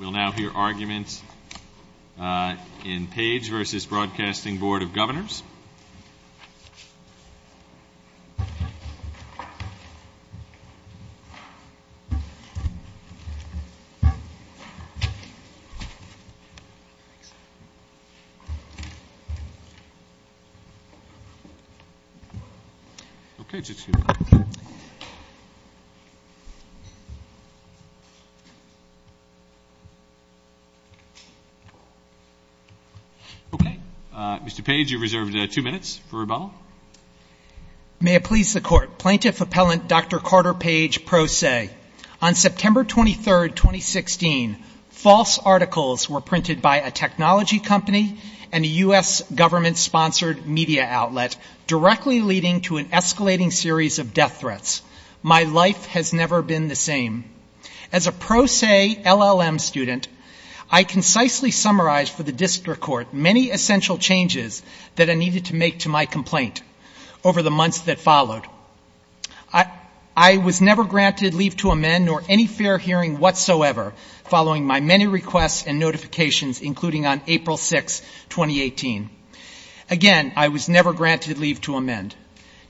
We'll now hear arguments in Page v. Broadcasting Board of Governors. Okay. Mr. Page, you've reserved two minutes for rebuttal. May it please the Court. Plaintiff Appellant Dr. Carter Page, pro se. On September 23, 2016, false articles were printed by a technology company and a U.S. government-sponsored media outlet, directly leading to an escalating series of death threats. My life has never been the same. As a pro se LLM student, I concisely summarized for the District Court many essential changes that I needed to make to my complaint over the months that followed. I was never granted leave to amend nor any fair hearing whatsoever, following my many requests and notifications, including on April 6, 2018. Again, I was never granted leave to amend.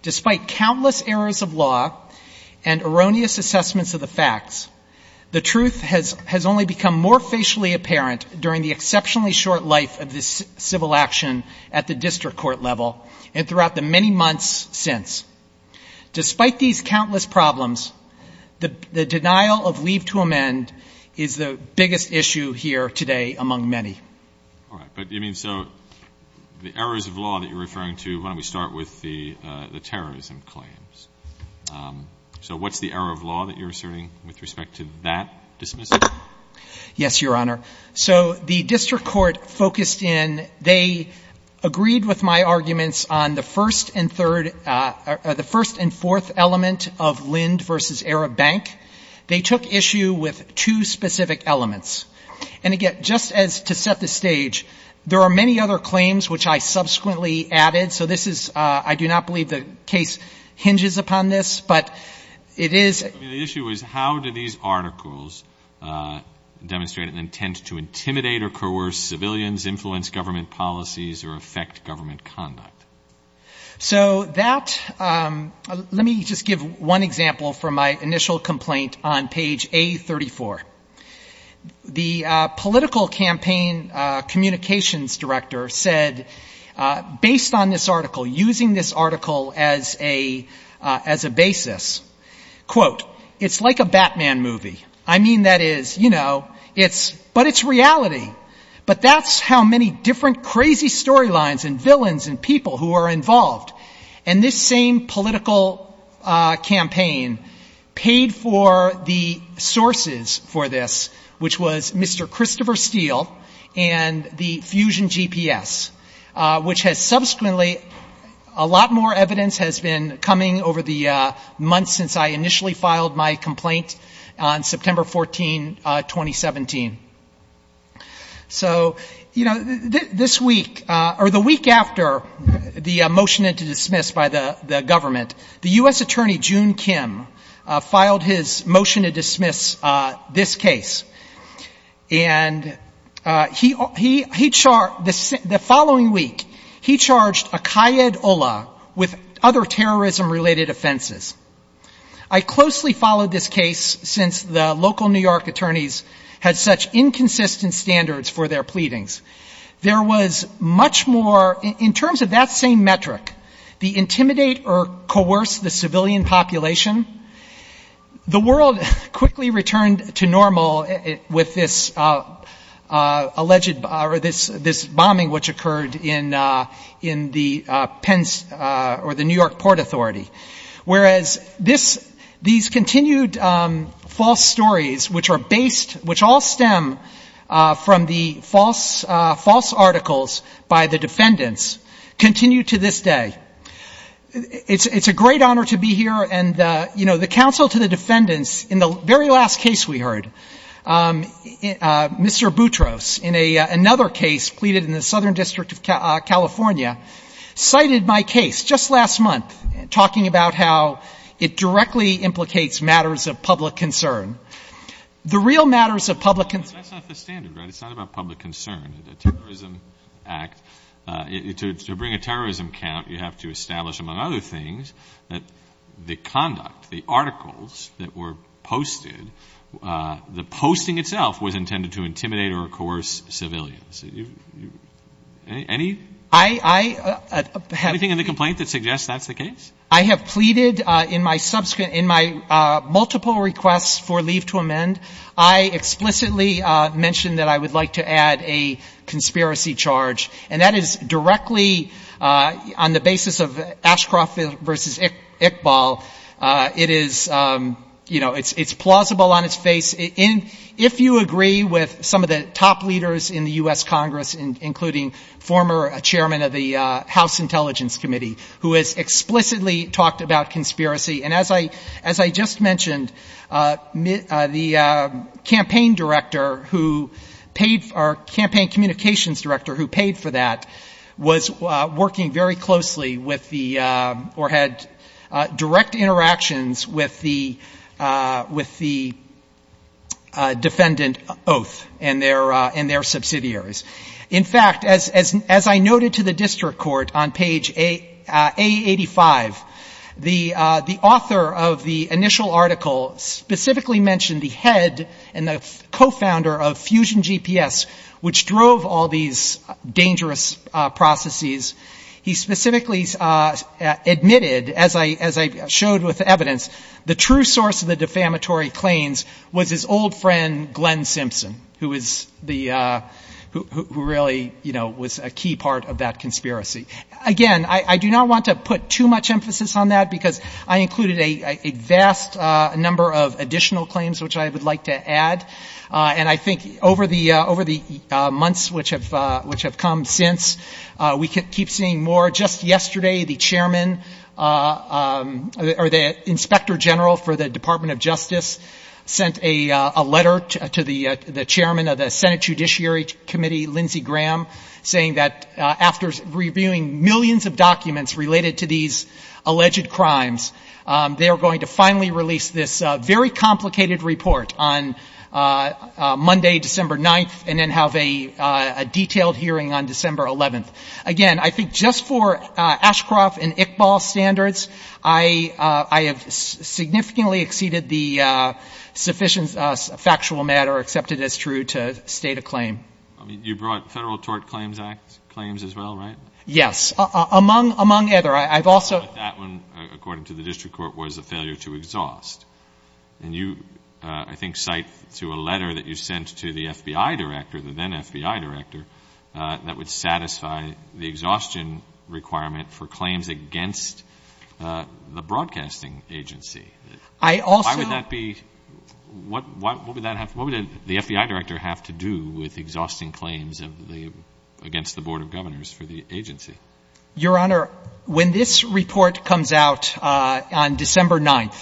Despite countless errors of law and erroneous assessments of the facts, I was never granted leave to amend. The truth has only become more facially apparent during the exceptionally short life of this civil action at the District Court level and throughout the many months since. Despite these countless problems, the denial of leave to amend is the biggest issue here today among many. All right. But, I mean, so the errors of law that you're referring to, why don't we start with the terrorism claims? So what's the error of law that you're asserting with respect to that dismissal? Yes, Your Honor. So the District Court focused in, they agreed with my arguments on the first and third, the first and fourth element of Lind v. Arab Bank. They took issue with two specific elements. And, again, just as to set the stage, there are many other claims which I subsequently added, so this is, I do not believe the case hinges on that. Other than the fact that this is a civil case, I don't believe that it hinges upon this, but it is. The issue is how did these articles demonstrate an intent to intimidate or coerce civilians, influence government policies or affect government conduct? So that, let me just give one example from my initial complaint on page A34. The political campaign communications director said, based on this article, using this article as a basis, quote, it's like a Batman movie. I mean, that is, you know, it's, but it's reality. But that's how many different crazy storylines and villains and people who are involved. And this same political campaign paid for the sources of this story. Which was Mr. Christopher Steele and the Fusion GPS. Which has subsequently, a lot more evidence has been coming over the months since I initially filed my complaint on September 14, 2017. So, you know, this week, or the week after the motion to dismiss by the government, the U.S. attorney, June Kim, filed his motion to dismiss this case. And he, the following week, he charged Akai Ed Ola with other terrorism-related offenses. I closely followed this case since the local New York attorneys had such inconsistent standards for their pleadings. There was much more, in terms of that same metric, the intimidate or coerce, the civilian population, the world quickly returned to normal with this alleged, or this bombing which occurred in the Penns, or the New York Port Authority. Whereas this, these continued false stories, which are based, which all stem from the false articles by the defendants, continue to this day. It's a great honor to be here, and, you know, the counsel to the defendants, in the very last case we heard, Mr. Boutros, in another case pleaded in the Southern District of California, cited my case just last month, talking about how it directly implicates matters of public concern. The real matters of public concern... To bring a terrorism count, you have to establish, among other things, that the conduct, the articles that were posted, the posting itself, was intended to intimidate or coerce civilians. Anything in the complaint that suggests that's the case? I have pleaded in my multiple requests for leave to amend, I explicitly mentioned that I would like to add a conspiracy charge, and that is directly on the basis of Ashcroft v. Iqbal. It is, you know, it's plausible on its face. If you agree with some of the top leaders in the U.S. Congress, including former chairman of the House Intelligence Committee, who has explicitly talked about conspiracy, and as I just mentioned, the campaign director who paid, or campaign communications director who paid for that, was working very closely with the, or had direct interactions with the defendant oath and their subsidiaries. In fact, as I noted to the district court on page A85, the author of the initial article specifically mentioned the head and the cofounder of Fusion GPS, which drove all these dangerous processes. He specifically admitted, as I showed with evidence, the true source of the defamatory claims was his old friend Glenn Simpson, who was the, who really, you know, was a key part of that conspiracy. Again, I do not want to put too much emphasis on that, because I included a vast number of additional claims, which I would like to add. And I think over the months which have come since, we keep seeing more. Just yesterday, the chairman, or the inspector general for the Department of Justice, sent a letter to the chairman of the Senate Judiciary Committee, Lindsey Graham, saying that after reviewing millions of documents related to these alleged crimes, they are going to finally release this very complicated report on Monday, December 9th, and then have a detailed hearing on December 11th. Again, I think just for Ashcroft and Iqbal standards, I have significantly exceeded the sufficient factual matter accepted as true to state a claim. I mean, you brought Federal Tort Claims Act claims as well, right? Yes. Among, among other. I've also... But that one, according to the district court, was a failure to exhaust. And you, I think, cite to a letter that you sent to the FBI director, the then-FBI director, that would satisfy the exhaustion requirement for claims against the broadcasting agency. I also... Why would that be? What would the FBI director have to do with exhausting claims against the Board of Governors for the agency? Your Honor, when this report comes out on December 9th,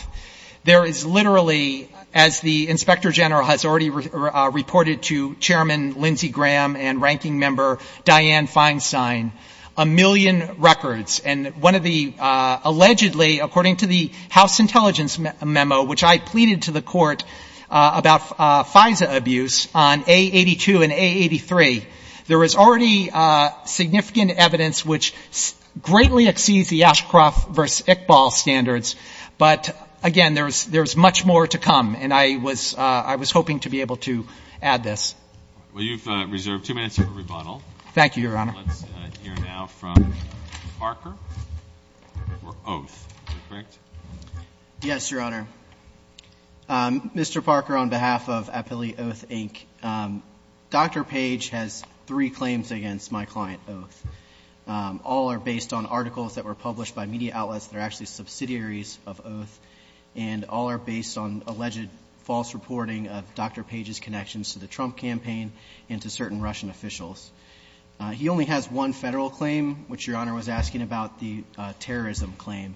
there is literally, as the inspector general has already reported to Chairman Lindsey Graham and Ranking Member Dianne Feinstein, a million records. And one of the allegedly, according to the House Intelligence Memo, which I pleaded to the court about FISA abuse on A82 and A83, there is already significant evidence which greatly exceeds the Ashcroft v. Iqbal standards. But, again, there is much more to come. And I was hoping to be able to add this. Well, you've reserved two minutes for rebuttal. Thank you, Your Honor. Let's hear now from Parker for oath. Is that correct? Yes, Your Honor. Mr. Parker, on behalf of Appellee Oath, Inc., Dr. Page has three claims against my client, Oath. All are based on articles that were published by media outlets that are actually subsidiaries of Oath. And all are based on alleged false reporting of Dr. Page's connections to the Trump campaign and to certain Russian officials. He only has one Federal claim, which Your Honor was asking about, the terrorism claim.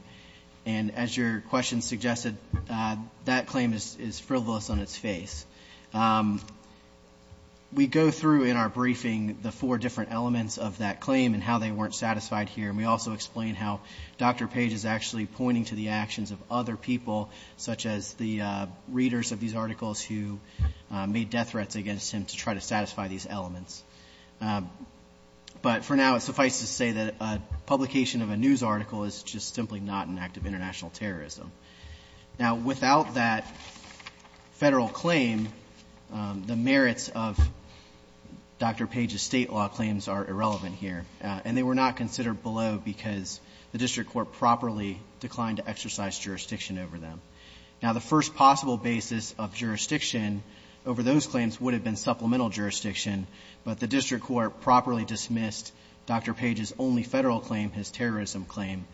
And as your question suggested, that claim is frivolous on its face. We go through in our briefing the four different elements of that claim and how they weren't satisfied here. And we also explain how Dr. Page is actually pointing to the actions of other people, such as the readers of these articles who made death threats against him to try to satisfy these elements. But for now, it suffices to say that a publication of a news article is just simply not an act of international terrorism. Now, without that Federal claim, the merits of Dr. Page's state law claims are irrelevant here. And they were not considered below because the district court properly declined to exercise jurisdiction over them. Now, the first possible basis of jurisdiction over those claims would have been supplemental jurisdiction. But the district court properly dismissed Dr. Page's only Federal claim, his terrorism claim,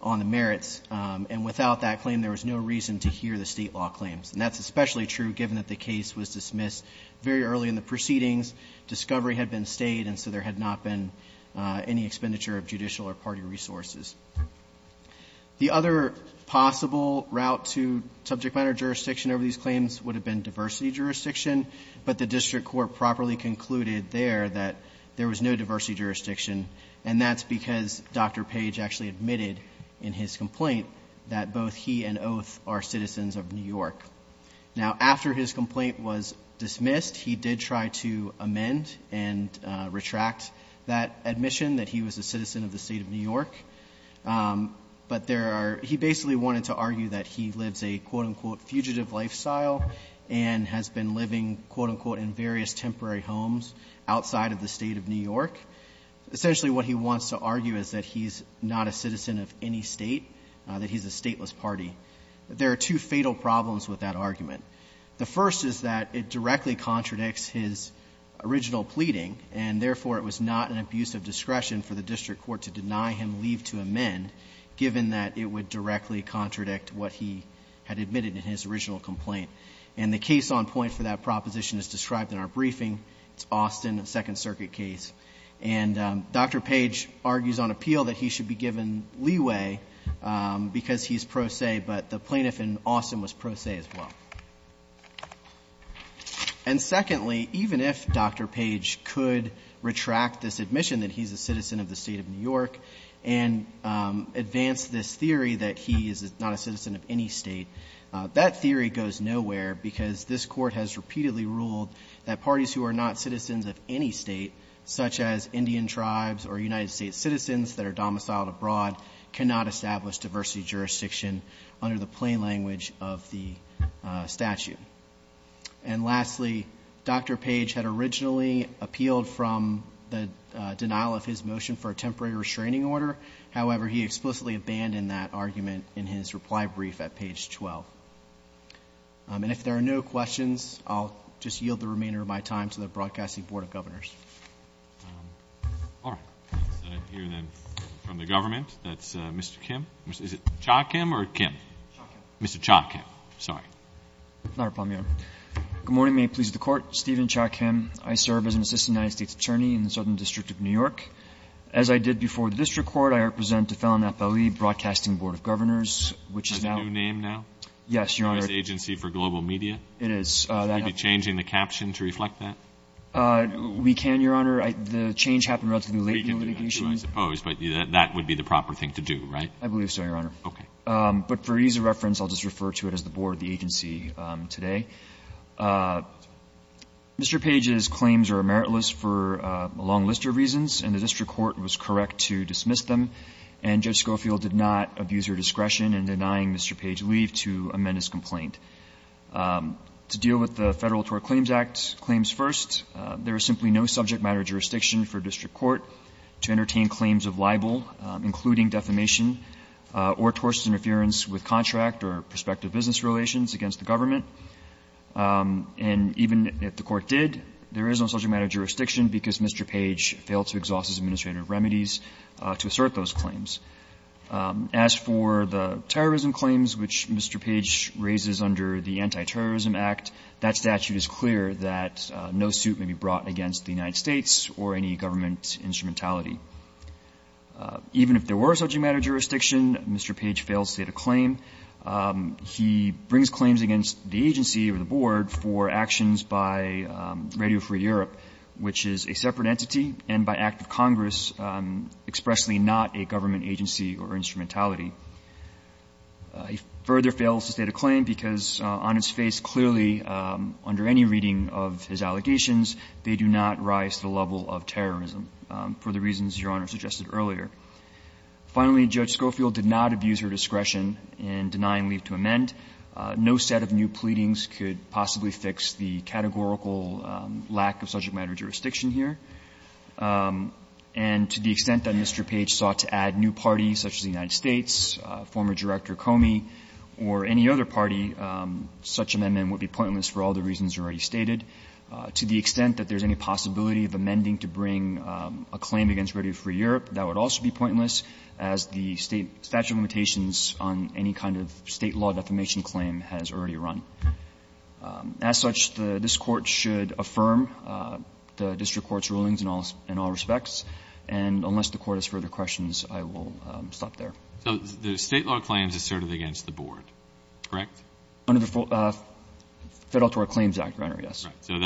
on the merits. And without that claim, there was no reason to hear the state law claims. And that's especially true given that the case was dismissed very early in the proceedings, discovery had been stayed, and so there had not been any expenditure of judicial or party resources. The other possible route to subject matter jurisdiction over these claims would have been diversity jurisdiction. But the district court properly concluded there that there was no diversity jurisdiction. And that's because Dr. Page actually admitted in his complaint that both he and Oath are citizens of New York. Now, after his complaint was dismissed, he did try to amend and retract that admission, that he was a citizen of the state of New York. But there are, he basically wanted to argue that he lives a, quote, unquote, fugitive lifestyle and has been living, quote, unquote, in various temporary homes outside of the state of New York. Essentially what he wants to argue is that he's not a citizen of any state, that he's a stateless party. There are two fatal problems with that argument. The first is that it directly contradicts his original pleading, and therefore it was not an abuse of discretion for the district court to deny him leave to amend, given that it would directly contradict what he had admitted in his original complaint. And the case on point for that proposition is described in our briefing. It's Austin, a Second Circuit case. And Dr. Page argues on appeal that he should be given leeway because he's pro se, but the plaintiff in Austin was pro se as well. And secondly, even if Dr. Page could retract this admission that he's a citizen of the state of New York and advance this theory that he is not a citizen of any state, that theory goes nowhere because this court has repeatedly ruled that parties who are not citizens of any state, such as Indian tribes or United States citizens that are domiciled abroad, cannot establish diversity jurisdiction under the plain language of the statute. And lastly, Dr. Page had originally appealed from the denial of his motion for a temporary restraining order. However, he explicitly abandoned that argument in his reply brief at page 12. And if there are no questions, I'll just yield the remainder of my time to the Broadcasting Board of Governors. All right. Let's hear then from the government. That's Mr. Kim. Is it Cha Kim or Kim? Cha Kim. Mr. Cha Kim. Sorry. Not a problem, Your Honor. Good morning. May it please the Court. Stephen Cha Kim. I serve as an assistant United States attorney in the Southern District of New York. As I did before the district court, I represent the Fallon FLE Broadcasting Board of Governors, which is now — Is that a new name now? Yes, Your Honor. U.S. Agency for Global Media? It is. Will you be changing the caption to reflect that? We can, Your Honor. The change happened relatively late in the litigation. We can do that, too, I suppose. But that would be the proper thing to do, right? I believe so, Your Honor. Okay. But for ease of reference, I'll just refer to it as the board of the agency today. Mr. Page's claims are meritless for a long list of reasons, and the district court was correct to dismiss them, and Judge Schofield did not abuse her discretion in denying Mr. Page leave to amend his complaint. To deal with the Federal Tort Claims Act claims first, there is simply no subject matter jurisdiction for district court to entertain claims of libel, including defamation or torts interference with contract or prospective business relations against the government. And even if the court did, there is no subject matter jurisdiction because Mr. Page failed to exhaust his administrative remedies to assert those claims. As for the terrorism claims, which Mr. Page raises under the Anti-Terrorism Act, that statute is clear that no suit may be brought against the United States or any government instrumentality. Even if there were a subject matter jurisdiction, Mr. Page failed to state a claim. He brings claims against the agency or the board for actions by Radio Free Europe, which is a separate entity, and by act of Congress, expressly not a government agency or instrumentality. He further fails to state a claim because on its face, clearly, under any reading of his allegations, they do not rise to the level of terrorism, for the reasons Your Honor suggested earlier. Finally, Judge Schofield did not abuse her discretion in denying leave to amend. No set of new pleadings could possibly fix the categorical lack of subject matter jurisdiction here. And to the extent that Mr. Page sought to add new parties, such as the United States, former Director Comey, or any other party, such amendment would be pointless for all the reasons already stated. To the extent that there is any possibility of amending to bring a claim against Radio Free Europe, that would also be pointless, as the State statute of limitations on any kind of State law defamation claim has already run. As such, this Court should affirm the district court's rulings in all respects. And unless the Court has further questions, I will stop there. So the State law claims asserted against the board, correct? Under the Federal Tort Claims Act, Your Honor, yes. So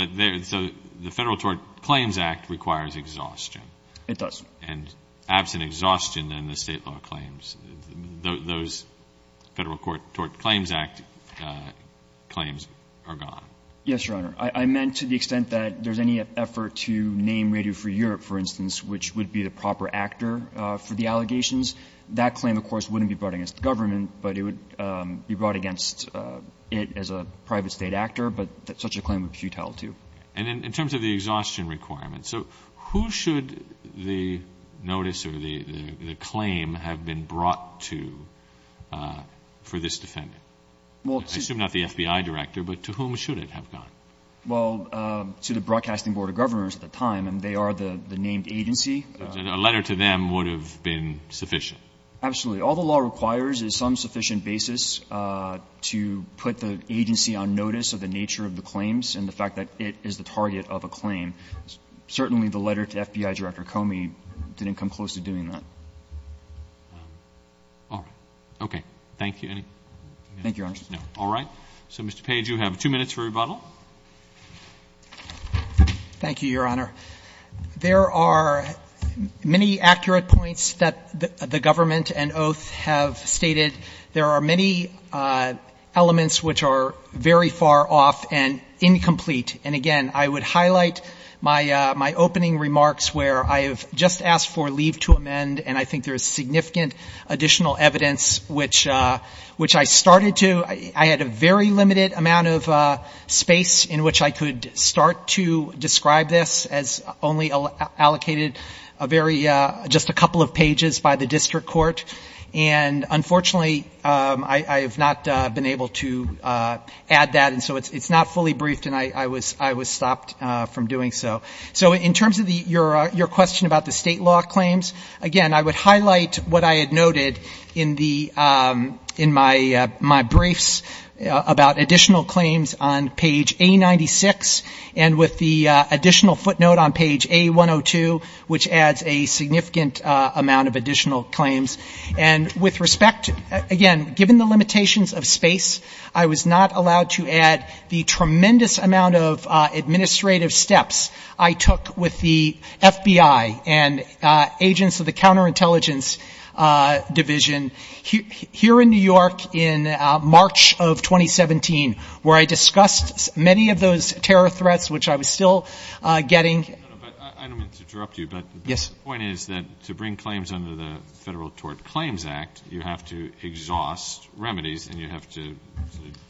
the Federal Tort Claims Act requires exhaustion. It does. And absent exhaustion, then, the State law claims, those Federal Tort Claims Act claims are gone. Yes, Your Honor. I meant to the extent that there's any effort to name Radio Free Europe, for instance, which would be the proper actor for the allegations. That claim, of course, wouldn't be brought against the government, but it would be brought against it as a private State actor, but such a claim would be futile too. And in terms of the exhaustion requirements, so who should the notice or the claim have been brought to for this defendant? I assume not the FBI director, but to whom should it have gone? Well, to the Broadcasting Board of Governors at the time, and they are the named agency. So a letter to them would have been sufficient? Absolutely. All the law requires is some sufficient basis to put the agency on notice of the nature of the claims and the fact that it is the target of a claim. Certainly, the letter to FBI Director Comey didn't come close to doing that. All right. Okay. Thank you. Thank you, Your Honor. All right. So, Mr. Page, you have two minutes for rebuttal. Thank you, Your Honor. There are many accurate points that the government and oath have stated. There are many elements which are very far off and incomplete. And again, I would highlight my opening remarks where I have just asked for leave to amend, and I think there is significant additional evidence which I started to, I had a very limited amount of space in which I could start to describe this as only allocated a very, just a couple of pages by the district court. And unfortunately, I have not been able to add that, and so it's not fully briefed and I was stopped from doing so. So in terms of your question about the state law claims, again, I would highlight what I had noted in my briefs about additional claims on page A96, and with the additional footnote on page A102, which adds a significant amount of additional claims, and with respect, again, given the limitations of space, I was not allowed to add the tremendous amount of administrative steps I took with the FBI and agents of the counterintelligence division here in New York in March of 2017, where I discussed many of those terror threats which I was still getting. I don't mean to interrupt you, but the point is that to bring claims under the Federal Tort Claims Act, you have to exhaust remedies and you have to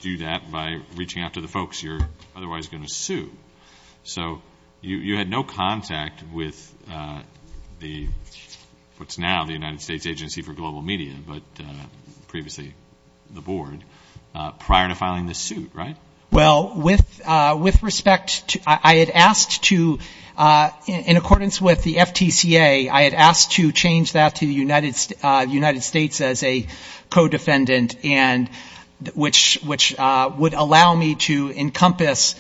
do that by reaching out to the folks you're otherwise going to sue. So you had no contact with the, what's now the United States Agency for Global Media, but previously the board, prior to filing this suit, right? Well, with respect, I had asked to, in accordance with the FTCA, I had asked to change that to the United States as a co-defendant, and which would allow me to encompass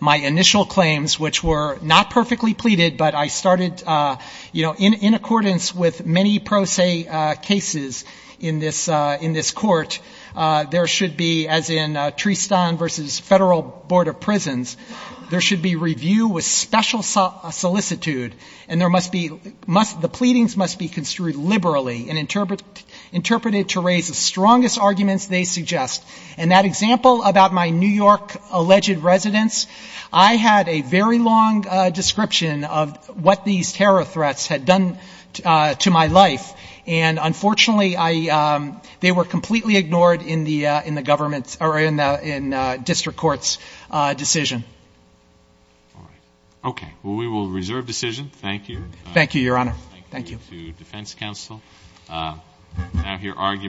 my initial claims, which were not perfectly pleaded, but I started, you know, in versus Federal Board of Prisons, there should be review with special solicitude, and there must be, the pleadings must be construed liberally and interpreted to raise the strongest arguments they suggest. And that example about my New York alleged residence, I had a very long description of what these terror threats had done to my life. And unfortunately, I, they were completely ignored in the, in the government or in the, in district courts decision. Okay. Well, we will reserve decision. Thank you. Thank you, Your Honor. Thank you. Thank you to defense counsel. I now hear arguments.